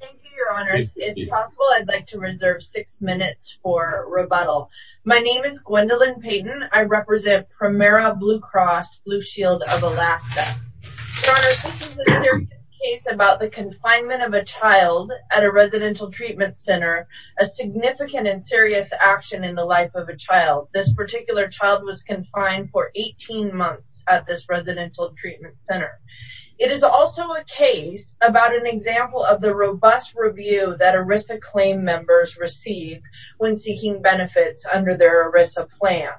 Thank you, Your Honors. If possible, I'd like to reserve six minutes for rebuttal. My name is Gwendolyn Payton. I represent Premera Blue Cross Blue Shield of Alaska. Your Honors, this is a serious case about the confinement of a child at a residential treatment center, a significant and serious action in the life of a child. This particular child was confined for 18 months at this residential treatment center. It is also a case about an example of the robust review that ERISA claim members receive when seeking benefits under their ERISA plan.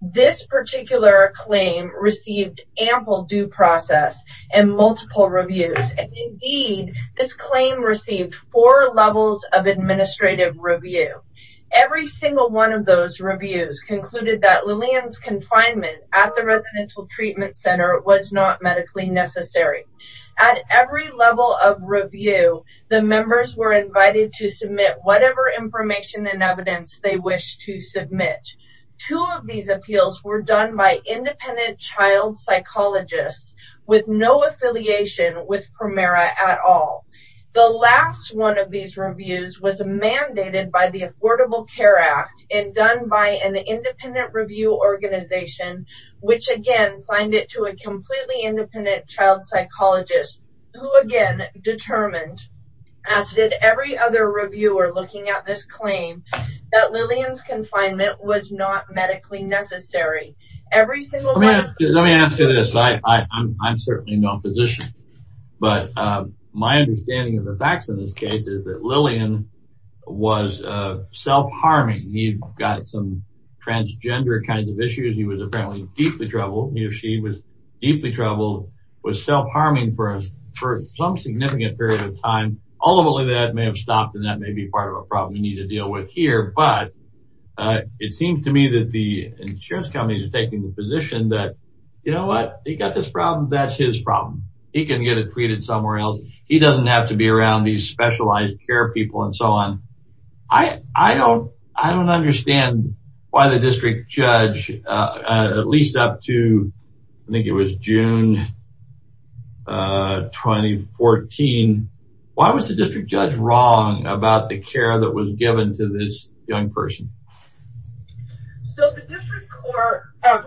This particular claim received ample due process and multiple reviews. Indeed, this claim received four levels of administrative review. Every single one of those reviews concluded that Lillian's confinement at the residential treatment center was not medically necessary. At every level of review, the members were invited to submit whatever information and evidence they wished to submit. Two of these appeals were done by independent child psychologists with no affiliation with Premera at all. The last one of these reviews was mandated by the Affordable Care Act and done by an independent review organization, which again signed it to a completely independent child psychologist, who again determined, as did every other reviewer looking at this claim, that Lillian's confinement was not medically necessary. Let me ask you this. I'm certainly no physician, but my understanding of the facts in this case is that Lillian was self-harming. He got some transgender kinds of issues. He was apparently deeply troubled. He or she was deeply troubled, was self-harming for some significant period of time. All of that may have stopped, and that may be part of a problem we need to deal with here, but it seems to me that the insurance companies are taking the position that, you know what? He got this problem. That's his problem. He can get it treated somewhere else. He doesn't have to be around these specialized care people and so on. I don't understand why the district judge, at least up to I think it was June 2014, why was the district judge wrong about the care that was given to this young person?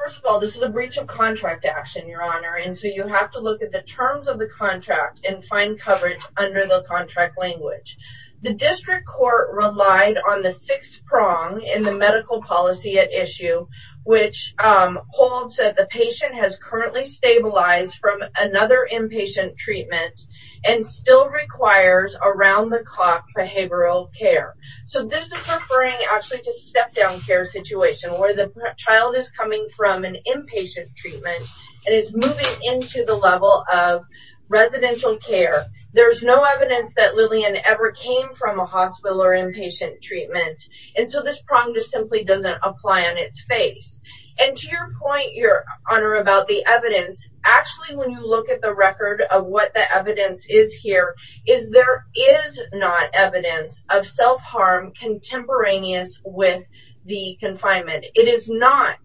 First of all, this is a breach of contract action, Your Honor, and so you have to look at the terms of the contract and find coverage under the contract language. The district court relied on the sixth prong in the medical policy at issue, which holds that the patient has currently stabilized from another inpatient treatment and still requires around-the-clock behavioral care. So this is referring actually to a step-down care situation where the child is coming from an inpatient treatment and is moving into the level of residential care. There's no evidence that Lillian ever came from a hospital or inpatient treatment, and so this prong just simply doesn't apply on its face. And to your point, Your Honor, about the evidence, actually when you look at the record of what the evidence is here, is there is not evidence of self-harm contemporaneous with the confinement. It is not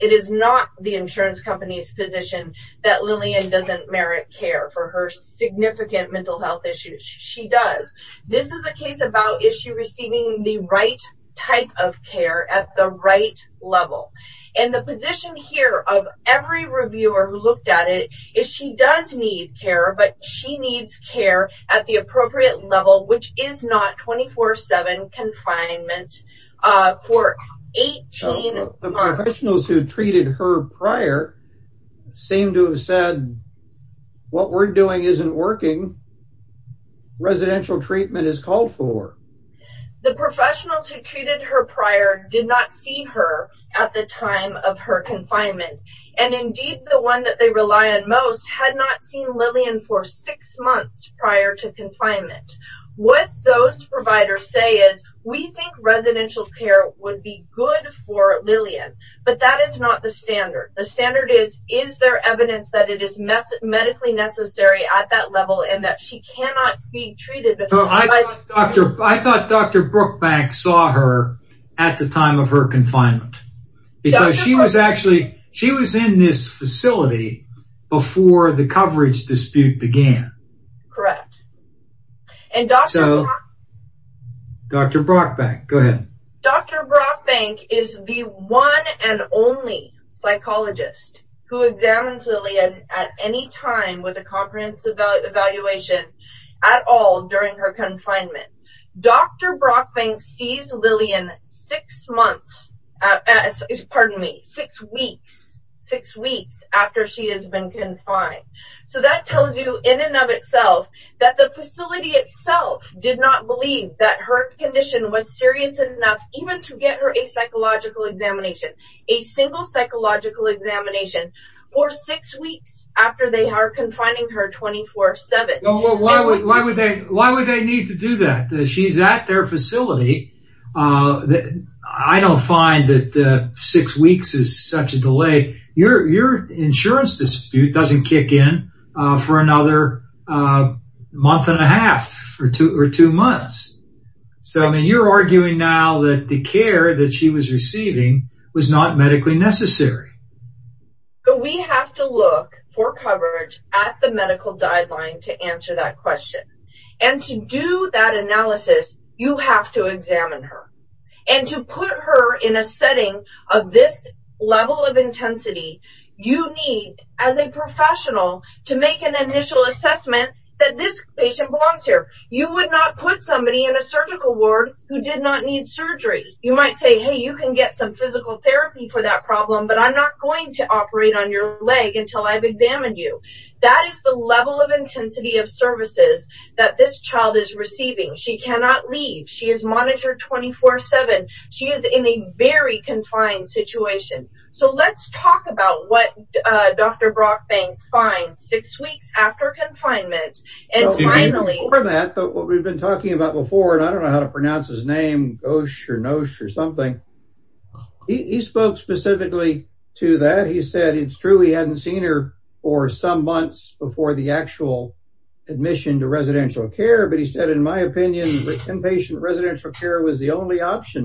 the insurance company's position that Lillian doesn't merit care for her significant mental health issues. She does. This is a case about is she receiving the right type of care at the right level. And the position here of every reviewer who looked at it is she does need care, but she needs care at the appropriate level, which is not 24-7 confinement for 18 months. The professionals who treated her prior seem to have said, what we're doing isn't working. Residential treatment is called for. The professionals who treated her prior did not see her at the time of her confinement, and indeed the one that they rely on most had not seen Lillian for six months prior to confinement. What those providers say is, we think residential care would be good for Lillian, but that is not the standard. The standard is, is there evidence that it is medically necessary at that level and that she cannot be treated. I thought Dr. Brookbank saw her at the time of her confinement. She was in this facility before the coverage dispute began. Correct. Dr. Brookbank, go ahead. Dr. Brookbank is the one and only psychologist who examines Lillian at any time with a comprehensive evaluation at all during her confinement. Dr. Brookbank sees Lillian six weeks after she has been confined. So that tells you in and of itself that the facility itself did not believe that her condition was serious enough even to get her a psychological examination, a single psychological examination for six weeks after they are confining her 24-7. Why would they need to do that? She's at their facility. I don't find that six weeks is such a delay. Your insurance dispute doesn't kick in for another month and a half or two months. You're arguing now that the care that she was receiving was not medically necessary. We have to look for coverage at the medical guideline to answer that question. To do that analysis, you have to examine her. To put her in a setting of this level of intensity, you need, as a professional, to make an initial assessment that this patient belongs here. You would not put somebody in a surgical ward who did not need surgery. You might say, hey, you can get some physical therapy for that problem, but I'm not going to operate on your leg until I've examined you. That is the level of intensity of services that this child is receiving. She cannot leave. She is monitored 24-7. She is in a very confined situation. So let's talk about what Dr. Brookbank finds six weeks after confinement. Before that, what we've been talking about before, and I don't know how to pronounce his name, he spoke specifically to that. He said it's true he hadn't seen her for some months before the actual admission to residential care. But he said, in my opinion, inpatient residential care was the only option.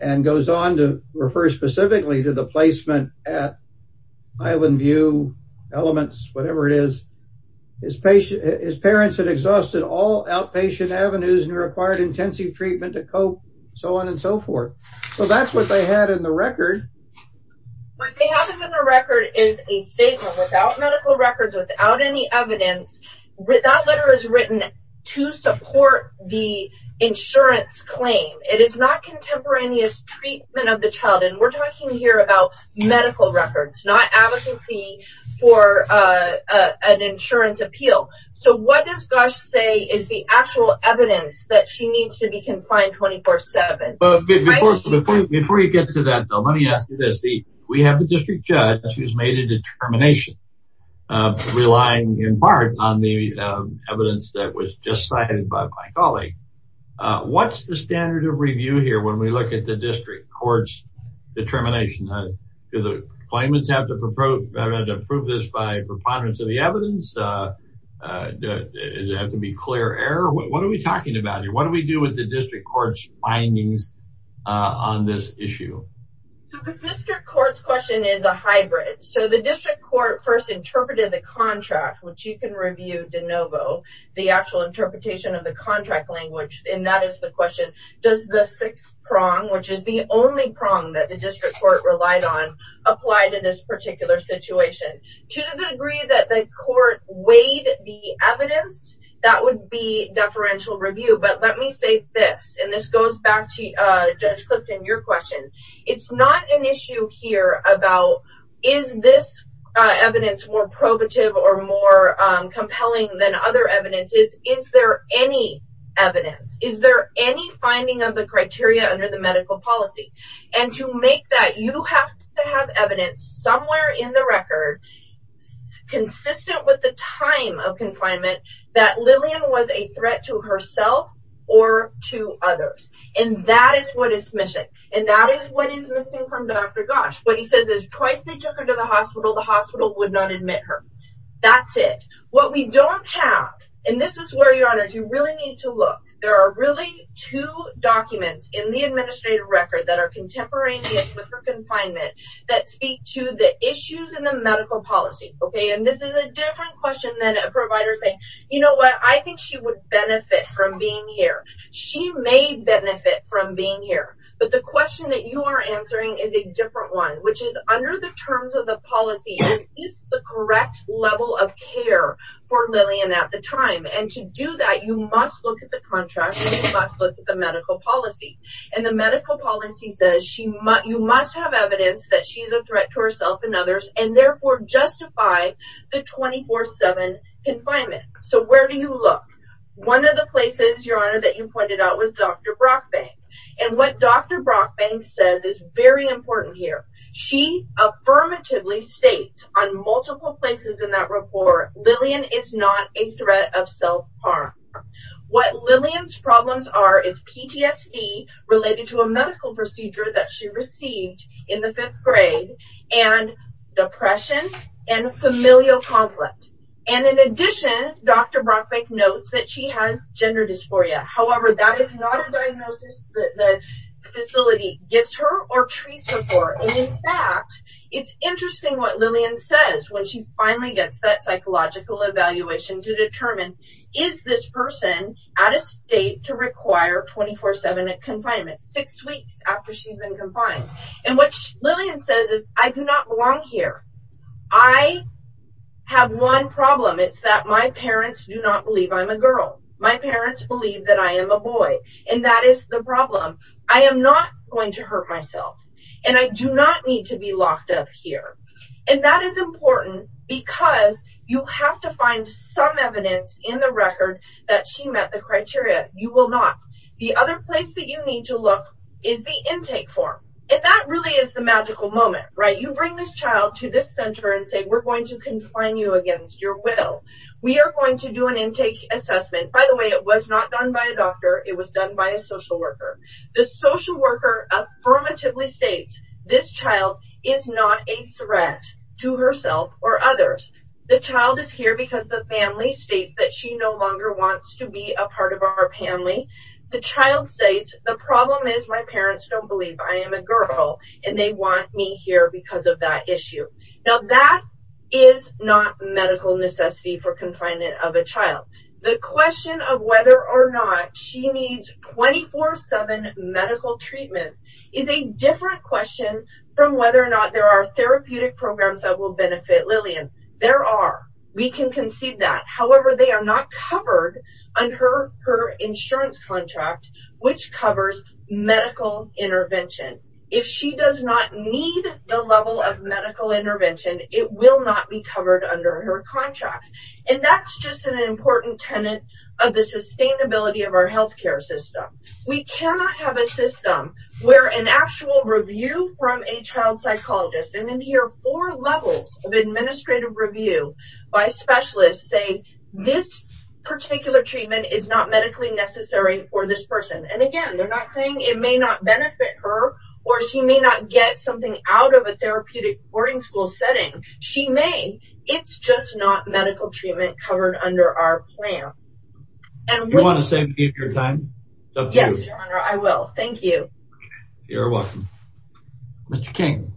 And goes on to refer specifically to the placement at Island View, Elements, whatever it is. His parents had exhausted all outpatient avenues and required intensive treatment to cope, so on and so forth. So that's what they had in the record. What they have in the record is a statement without medical records, without any evidence. That letter is written to support the insurance claim. It is not contemporaneous treatment of the child. And we're talking here about medical records, not advocacy for an insurance appeal. So what does Gush say is the actual evidence that she needs to be confined 24-7? Before you get to that, though, let me ask you this. We have a district judge who has made a determination, relying in part on the evidence that was just cited by my colleague. What's the standard of review here when we look at the district court's determination? Do the claimants have to prove this by preponderance of the evidence? Does it have to be clear error? What are we talking about here? What do we do with the district court's findings on this issue? The district court's question is a hybrid. So the district court first interpreted the contract, which you can review de novo, the actual interpretation of the contract language, and that is the question, does the sixth prong, which is the only prong that the district court relied on, apply to this particular situation? To the degree that the court weighed the evidence, that would be deferential review. But let me say this, and this goes back to Judge Clifton, your question. It's not an issue here about is this evidence more probative or more compelling than other evidences. Is there any evidence? Is there any finding of the criteria under the medical policy? And to make that, you have to have evidence somewhere in the record consistent with the time of confinement that Lillian was a threat to herself or to others. And that is what is missing. And that is what is missing from Dr. Gosch. What he says is twice they took her to the hospital, the hospital would not admit her. That's it. What we don't have, and this is where, Your Honor, you really need to look. There are really two documents in the administrative record that are contemporaneous with her confinement that speak to the issues in the medical policy. And this is a different question than a provider saying, you know what, I think she would benefit from being here. She may benefit from being here. But the question that you are answering is a different one, which is under the terms of the policy, is this the correct level of care for Lillian at the time? And to do that, you must look at the contract and you must look at the medical policy. And the medical policy says you must have evidence that she is a threat to herself and others and therefore justify the 24-7 confinement. So where do you look? One of the places, Your Honor, that you pointed out was Dr. Brockbank. And what Dr. Brockbank says is very important here. She affirmatively states on multiple places in that report, Lillian is not a threat of self-harm. What Lillian's problems are is PTSD related to a medical procedure that she received in the fifth grade and depression and familial conflict. And in addition, Dr. Brockbank notes that she has gender dysphoria. However, that is not a diagnosis that the facility gives her or treats her for. And in fact, it's interesting what Lillian says when she finally gets that psychological evaluation to determine is this person at a state to require 24-7 confinement, six weeks after she's been confined. And what Lillian says is, I do not belong here. I have one problem. It's that my parents do not believe I'm a girl. My parents believe that I am a boy. And that is the problem. I am not going to hurt myself. And I do not need to be locked up here. And that is important because you have to find some evidence in the record that she met the criteria. You will not. The other place that you need to look is the intake form. And that really is the magical moment, right? You bring this child to this center and say, we're going to confine you against your will. We are going to do an intake assessment. By the way, it was not done by a doctor. It was done by a social worker. The social worker affirmatively states, this child is not a threat to herself or others. The child is here because the family states that she no longer wants to be a part of our family. The child states, the problem is my parents don't believe I am a girl. And they want me here because of that issue. Now, that is not medical necessity for confinement of a child. The question of whether or not she needs 24-7 medical treatment is a different question from whether or not there are therapeutic programs that will benefit Lillian. There are. We can concede that. However, they are not covered under her insurance contract, which covers medical intervention. If she does not need the level of medical intervention, it will not be covered under her contract. And that's just an important tenet of the sustainability of our healthcare system. We cannot have a system where an actual review from a child psychologist and then hear four levels of administrative review by specialists say, this particular treatment is not medically necessary for this person. And again, they're not saying it may not benefit her or she may not get something out of a therapeutic boarding school setting. She may. It's just not medical treatment covered under our plan. And we want to save your time. Yes, I will. Thank you. You're welcome. Mr. King,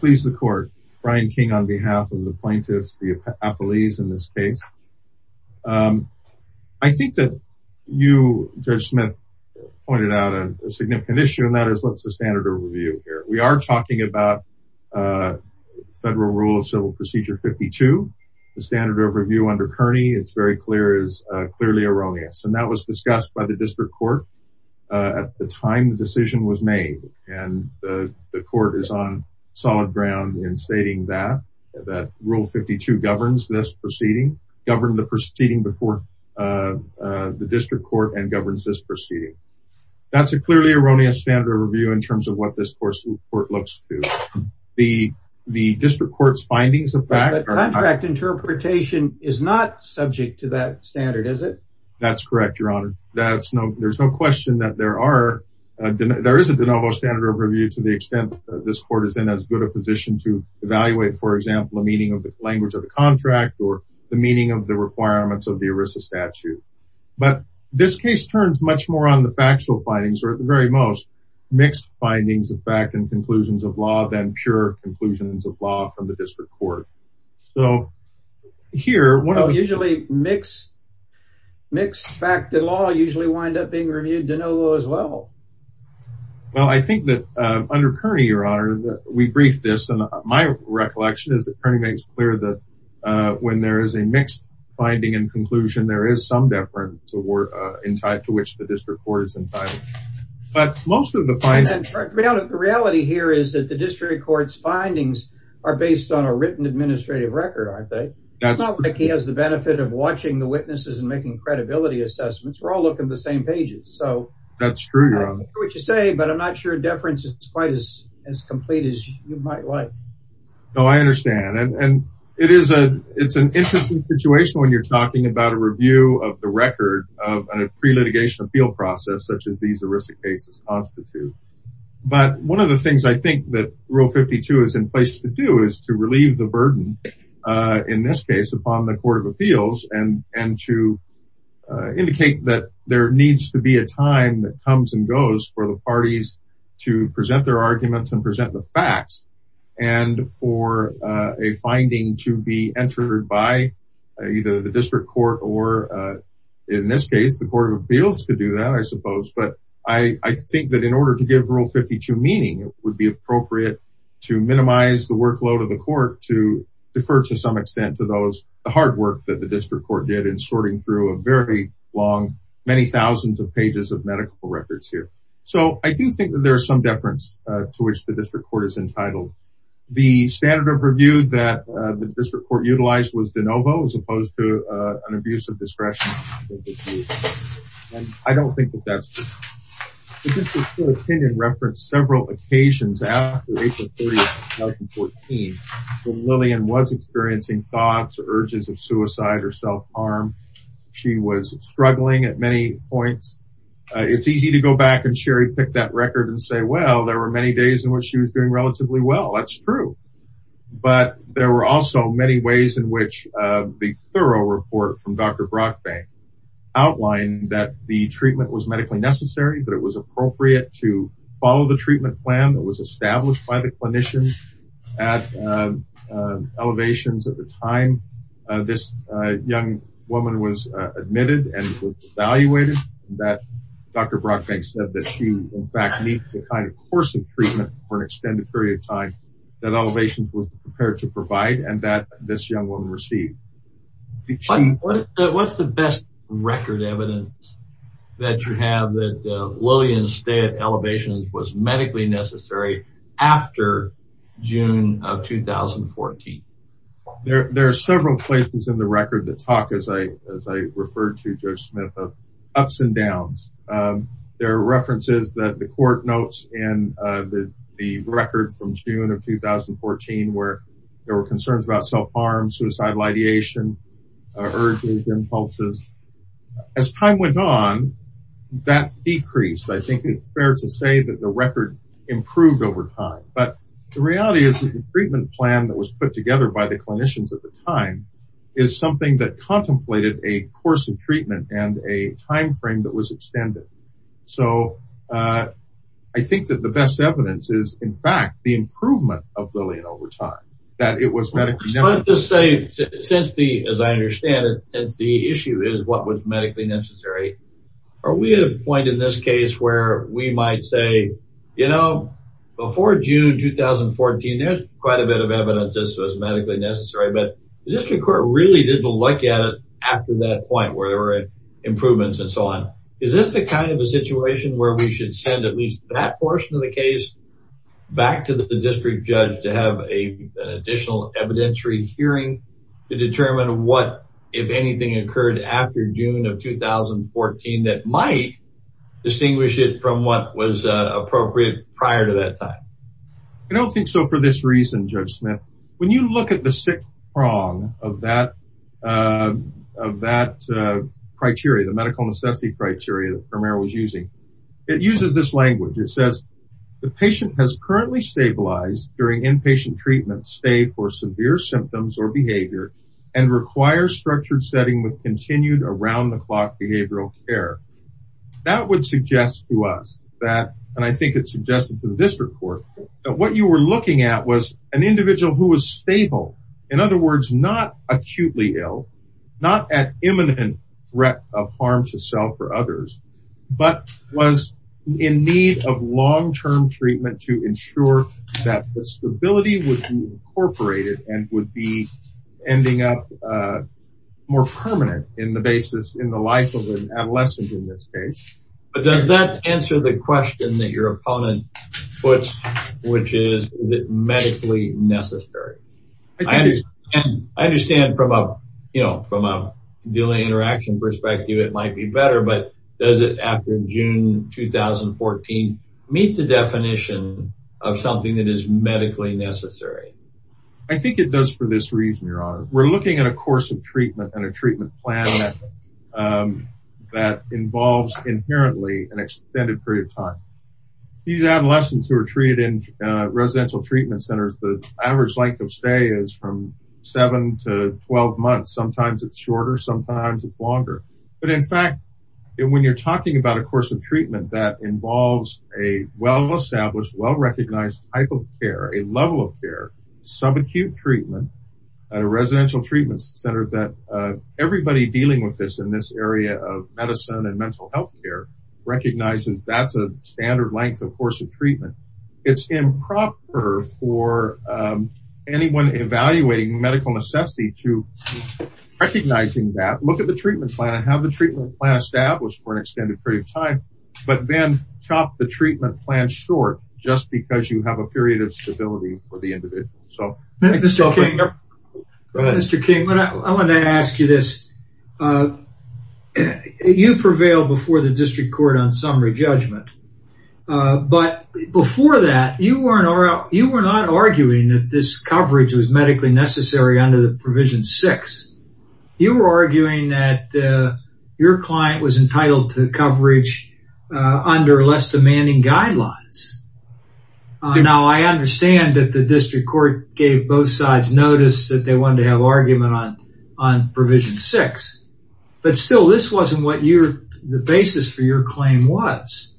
please. The court, Brian King, on behalf of the plaintiffs, the police in this case. I think that you, Judge Smith, pointed out a significant issue, and that is what's the standard of review here. We are talking about federal rule of civil procedure 52. The standard of review under Kearney, it's very clear, is clearly erroneous. And that was discussed by the district court at the time the decision was made. And the court is on solid ground in stating that, that rule 52 governs this proceeding, govern the proceeding before the district court and governs this proceeding. That's a clearly erroneous standard of review in terms of what this court looks to. The district court's findings of fact. Contract interpretation is not subject to that standard, is it? That's correct, Your Honor. There's no question that there is a de novo standard of review to the extent that this court is in as good a position to evaluate, for example, the meaning of the language of the contract or the meaning of the requirements of the ERISA statute. But this case turns much more on the factual findings, or at the very most, mixed findings of fact and conclusions of law than pure conclusions of law from the district court. So, here... Usually mixed fact and law usually wind up being reviewed de novo as well. Well, I think that under Kearney, Your Honor, we briefed this. And my recollection is that Kearney makes clear that when there is a mixed finding and conclusion, there is some deference to which the district court is entitled. But most of the findings... The reality here is that the district court's findings are based on a written administrative record, aren't they? It's not like he has the benefit of watching the witnesses and making credibility assessments. We're all looking at the same pages, so... That's true, Your Honor. I don't know what you say, but I'm not sure deference is quite as complete as you might like. No, I understand. And it's an interesting situation when you're talking about a review of the record of a pre-litigation appeal process such as these ERISA cases constitute. But one of the things I think that Rule 52 is in place to do is to relieve the burden, in this case, upon the Court of Appeals... To indicate that there needs to be a time that comes and goes for the parties to present their arguments and present the facts. And for a finding to be entered by either the district court or, in this case, the Court of Appeals to do that, I suppose. But I think that in order to give Rule 52 meaning, it would be appropriate to minimize the workload of the court to defer to some extent to those... The hard work that the district court did in sorting through a very long, many thousands of pages of medical records here. So, I do think that there is some deference to which the district court is entitled. The standard of review that the district court utilized was de novo as opposed to an abuse of discretion. And I don't think that that's the case. The district court opinion referenced several occasions after April 30th, 2014, when Lillian was experiencing thoughts or urges of suicide or self-harm. She was struggling at many points. It's easy to go back and cherry-pick that record and say, well, there were many days in which she was doing relatively well. That's true. But there were also many ways in which the thorough report from Dr. Brockbank outlined that the treatment was medically necessary, that it was appropriate to follow the treatment plan that was established by the clinicians at elevations at the time this young woman was admitted and evaluated. Dr. Brockbank said that she, in fact, needed the kind of course of treatment for an extended period of time that elevations was prepared to provide and that this young woman received. What's the best record evidence that you have that Lillian's stay at elevations was medically necessary after June of 2014? There are several places in the record that talk, as I referred to Judge Smith, of ups and downs. There are references that the court notes in the record from June of 2014 where there were concerns about self-harm, suicidal ideation, urges, impulses. As time went on, that decreased. I think it's fair to say that the record improved over time. But the reality is that the treatment plan that was put together by the clinicians at the time is something that contemplated a course of treatment and a time frame that was extended. So I think that the best evidence is, in fact, the improvement of Lillian over time, that it was medically necessary. As I understand it, since the issue is what was medically necessary, are we at a point in this case where we might say, you know, before June 2014, there's quite a bit of evidence that this was medically necessary, but the district court really didn't look at it after that point where there were improvements and so on. Is this the kind of a situation where we should send at least that portion of the case back to the district judge to have an additional evidentiary hearing to determine what, if anything, occurred after June of 2014 that might distinguish it from what was appropriate prior to that time? I don't think so for this reason, Judge Smith. When you look at the sixth prong of that criteria, the medical necessity criteria that Romero was using, it uses this language. It says, the patient has currently stabilized during inpatient treatment, stayed for severe symptoms or behavior, and requires structured setting with continued around-the-clock behavioral care. That would suggest to us that, and I think it suggested to the district court, that what you were looking at was an individual who was stable, in other words, not acutely ill, not at imminent threat of harm to self or others, but was in need of long-term treatment to ensure that the stability would be incorporated and would be ending up more permanent in the basis, in the life of an adolescent in this case. But does that answer the question that your opponent puts, which is medically necessary? I understand from a delay interaction perspective it might be better, but does it, after June 2014, meet the definition of something that is medically necessary? I think it does for this reason, Your Honor. We're looking at a course of treatment and a treatment plan that involves inherently an extended period of time. These adolescents who are treated in residential treatment centers, the average length of stay is from seven to 12 months. Sometimes it's shorter. Sometimes it's longer. But in fact, when you're talking about a course of treatment that involves a well-established, well-recognized type of care, a level of care, subacute treatment at a residential treatment center that everybody dealing with this in this area of medicine and mental health care recognizes that's a standard length of course of treatment. It's improper for anyone evaluating medical necessity to recognizing that, look at the treatment plan and have the treatment plan established for an extended period of time, but then chop the treatment plan short just because you have a period of stability for the individual. Mr. King, I wanted to ask you this. You prevailed before the district court on summary judgment, but before that, you were not arguing that this coverage was medically necessary under the provision six. You were arguing that your client was entitled to coverage under less demanding guidelines. Now, I understand that the district court gave both sides notice that they wanted to have argument on provision six, but still, this wasn't what the basis for your claim was.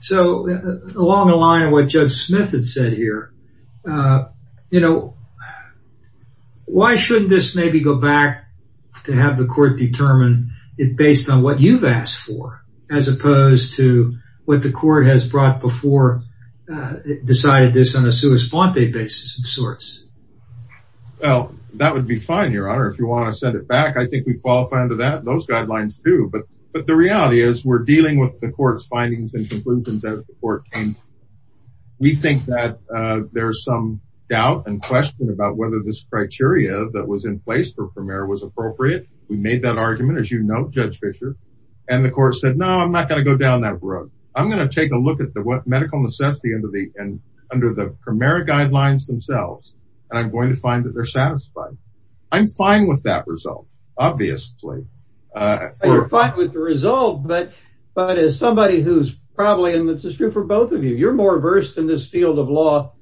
So, along the line of what Judge Smith had said here, you know, why shouldn't this maybe go back to have the court determine it based on what you've asked for as opposed to what the court has brought before, decided this on a sua sponte basis of sorts? Well, that would be fine, Your Honor. If you want to send it back, I think we qualify under that. Those guidelines do, but the reality is we're dealing with the court's findings and conclusions that the court came to. We think that there's some doubt and question about whether this criteria that was in place for PREMERA was appropriate. We made that argument, as you know, Judge Fischer, and the court said, no, I'm not going to go down that road. I'm going to take a look at what medical necessity under the PREMERA guidelines themselves, and I'm going to find that they're satisfied. I'm fine with that result, obviously. You're fine with the result, but as somebody who's probably in the district for both of you, you're more versed in this field of law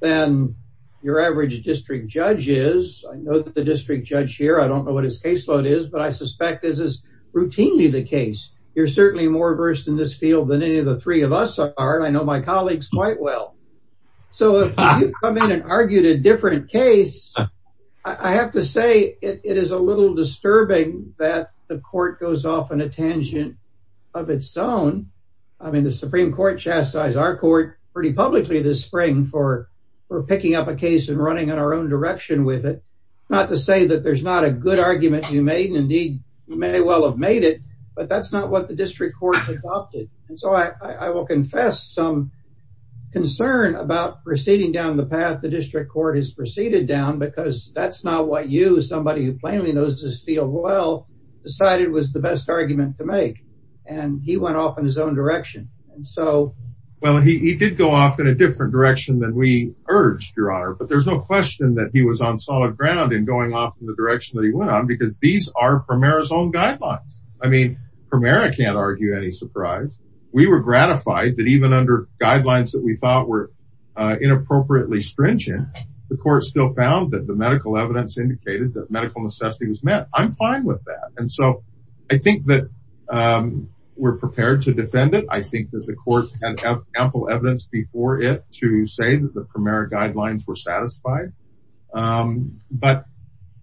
than your average district judge is. I know that the district judge here, I don't know what his caseload is, but I suspect this is routinely the case. You're certainly more versed in this field than any of the three of us are, and I know my colleagues quite well. So if you come in and argue a different case, I have to say it is a little disturbing that the court goes off on a tangent of its own. I mean, the Supreme Court chastised our court pretty publicly this spring for picking up a case and running in our own direction with it. Not to say that there's not a good argument you made, and indeed, you may well have made it, but that's not what the district court has adopted. And so I will confess some concern about proceeding down the path the district court has proceeded down, because that's not what you, somebody who plainly knows this field well, decided was the best argument to make. And he went off in his own direction. Well, he did go off in a different direction than we urged, Your Honor, but there's no question that he was on solid ground in going off in the direction that he went on, because these are Primera's own guidelines. I mean, Primera can't argue any surprise. We were gratified that even under guidelines that we thought were inappropriately stringent, the court still found that the medical evidence indicated that medical necessity was met. I'm fine with that. And so I think that we're prepared to defend it. I think that the court had ample evidence before it to say that the Primera guidelines were satisfied. But,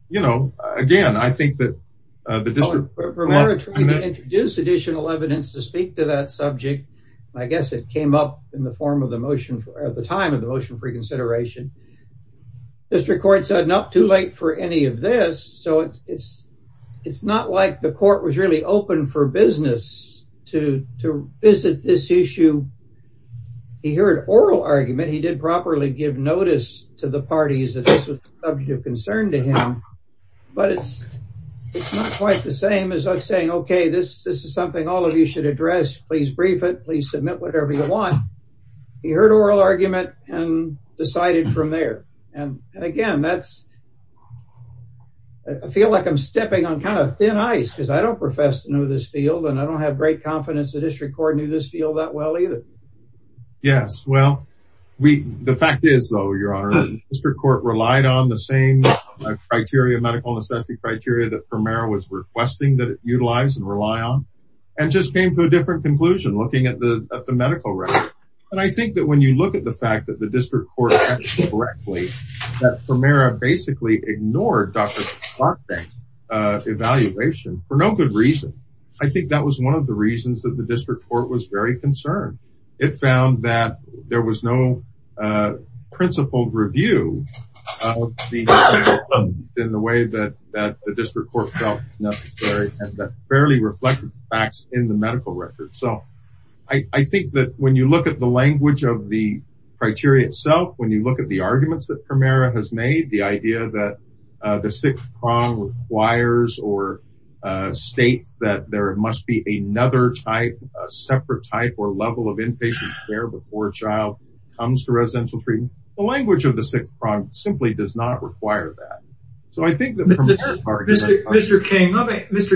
you know, again, I think that the district court- Primera tried to introduce additional evidence to speak to that subject. I guess it came up in the form of the motion at the time of the motion for consideration. District court said, no, too late for any of this. So it's not like the court was really open for business to visit this issue. He heard oral argument. He did properly give notice to the parties that this was a subject of concern to him. But it's not quite the same as saying, OK, this is something all of you should address. Please brief it. Please submit whatever you want. He heard oral argument and decided from there. And again, that's- I feel like I'm stepping on kind of thin ice because I don't profess to know this field. And I don't have great confidence the district court knew this field that well either. Yes. Well, the fact is, though, Your Honor, the district court relied on the same criteria, medical necessity criteria, that Primera was requesting that it utilize and rely on. And just came to a different conclusion looking at the medical record. And I think that when you look at the fact that the district court acted correctly, that Primera basically ignored Dr. Clark's evaluation for no good reason. I think that was one of the reasons that the district court was very concerned. It found that there was no principled review in the way that the district court felt necessary and that fairly reflected facts in the medical record. So I think that when you look at the language of the criteria itself, when you look at the arguments that Primera has made, the idea that the sixth prong requires or states that there must be another type, a separate type or level of inpatient care before a child comes to residential treatment. The language of the sixth prong simply does not require that. Mr.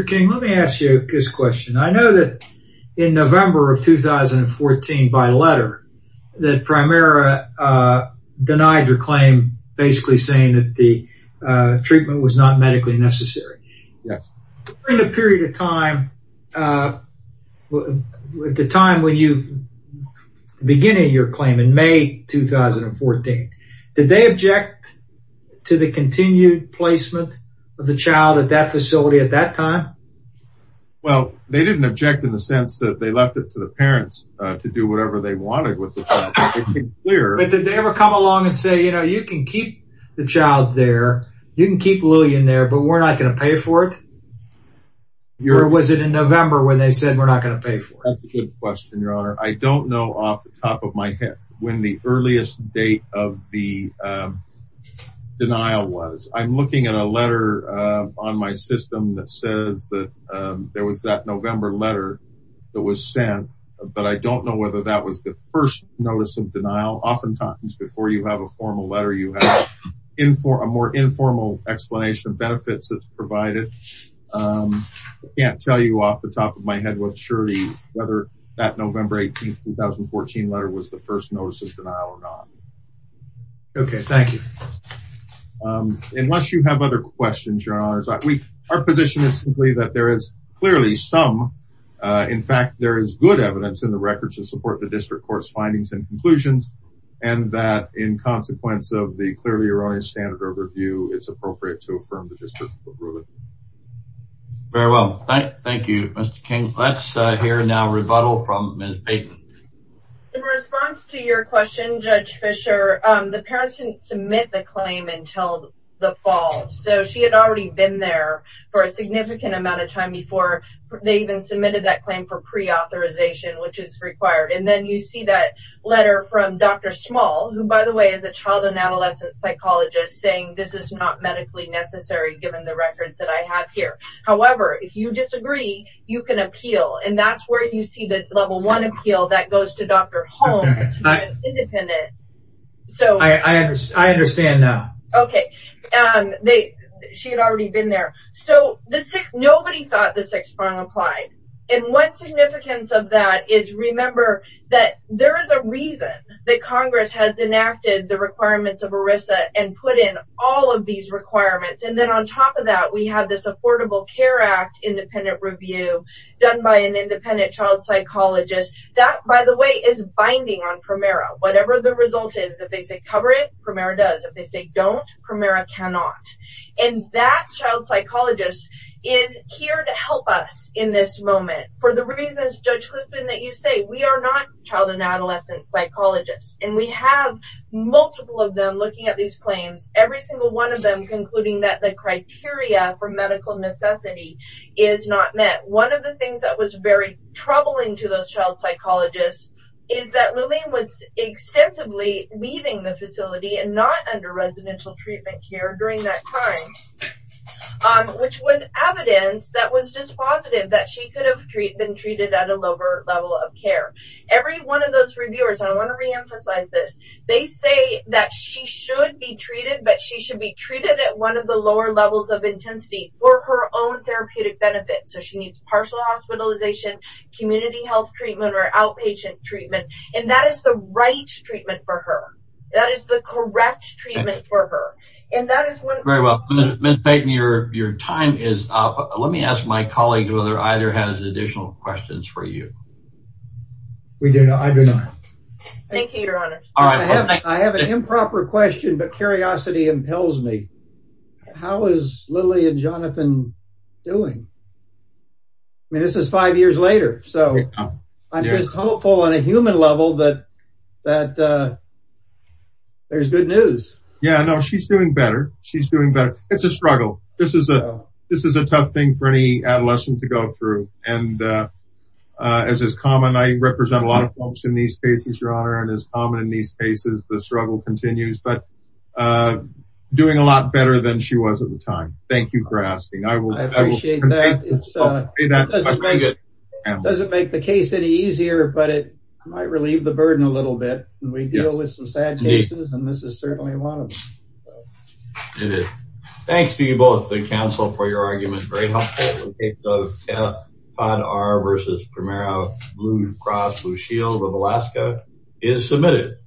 King, let me ask you this question. I know that in November of 2014, by letter, that Primera denied your claim, basically saying that the treatment was not medically necessary. Yes. During the period of time, the time when you began your claim in May 2014, did they object to the continued placement of the child at that facility at that time? Well, they didn't object in the sense that they left it to the parents to do whatever they wanted with the child. But did they ever come along and say, you know, you can keep the child there, you can keep Louie in there, but we're not going to pay for it? Or was it in November when they said we're not going to pay for it? That's a good question, Your Honor. I don't know off the top of my head when the earliest date of the denial was. I'm looking at a letter on my system that says that there was that November letter that was sent, but I don't know whether that was the first notice of denial. Oftentimes, before you have a formal letter, you have a more informal explanation of benefits that's provided. I can't tell you off the top of my head with surety whether that November 18, 2014 letter was the first notice of denial or not. Okay, thank you. Unless you have other questions, Your Honor, our position is simply that there is clearly some. In fact, there is good evidence in the record to support the district court's findings and conclusions, and that in consequence of the clearly erroneous standard overview, it's appropriate to affirm the district court ruling. Very well, thank you, Mr. King. Let's hear now a rebuttal from Ms. Payton. In response to your question, Judge Fisher, the parents didn't submit the claim until the fall, so she had already been there for a significant amount of time before they even submitted that claim for preauthorization, which is required. And then you see that letter from Dr. Small, who, by the way, is a child and adolescent psychologist, saying this is not medically necessary given the records that I have here. However, if you disagree, you can appeal, and that's where you see the level one appeal that goes to Dr. Holmes, who is independent. I understand now. Okay. She had already been there. So nobody thought the sixth prong applied. And what significance of that is remember that there is a reason that Congress has enacted the requirements of ERISA and put in all of these requirements. And then on top of that, we have this Affordable Care Act independent review done by an independent child psychologist. That, by the way, is binding on PREMERA. Whatever the result is, if they say cover it, PREMERA does. If they say don't, PREMERA cannot. And that child psychologist is here to help us in this moment for the reasons, Judge Clifton, that you say. We are not child and adolescent psychologists. And we have multiple of them looking at these claims, every single one of them concluding that the criteria for medical necessity is not met. One of the things that was very troubling to those child psychologists is that Luleen was extensively leaving the facility and not under residential treatment care during that time, which was evidence that was dispositive that she could have been treated at a lower level of care. Every one of those reviewers, and I want to reemphasize this, they say that she should be treated, but she should be treated at one of the lower levels of intensity for her own therapeutic benefit. So she needs partial hospitalization, community health treatment, or outpatient treatment. And that is the right treatment for her. That is the correct treatment for her. Very well. Ms. Payton, your time is up. Let me ask my colleague whether either has additional questions for you. We do not. I do not. I have an improper question, but curiosity impels me. How is Lily and Jonathan doing? I mean, this is five years later, so I'm just hopeful on a human level that there's good news. Yeah, no, she's doing better. She's doing better. It's a struggle. This is a tough thing for any adolescent to go through. And as is common, I represent a lot of folks in these cases, Your Honor, and as common in these cases, the struggle continues. But doing a lot better than she was at the time. Thank you for asking. I appreciate that. It doesn't make the case any easier, but it might relieve the burden a little bit. We deal with some sad cases, and this is certainly one of them. It is. Thanks to you both, the counsel, for your argument. Very helpful. The case of Ted Podar v. Primero, Blue Cross Blue Shield of Alaska is submitted.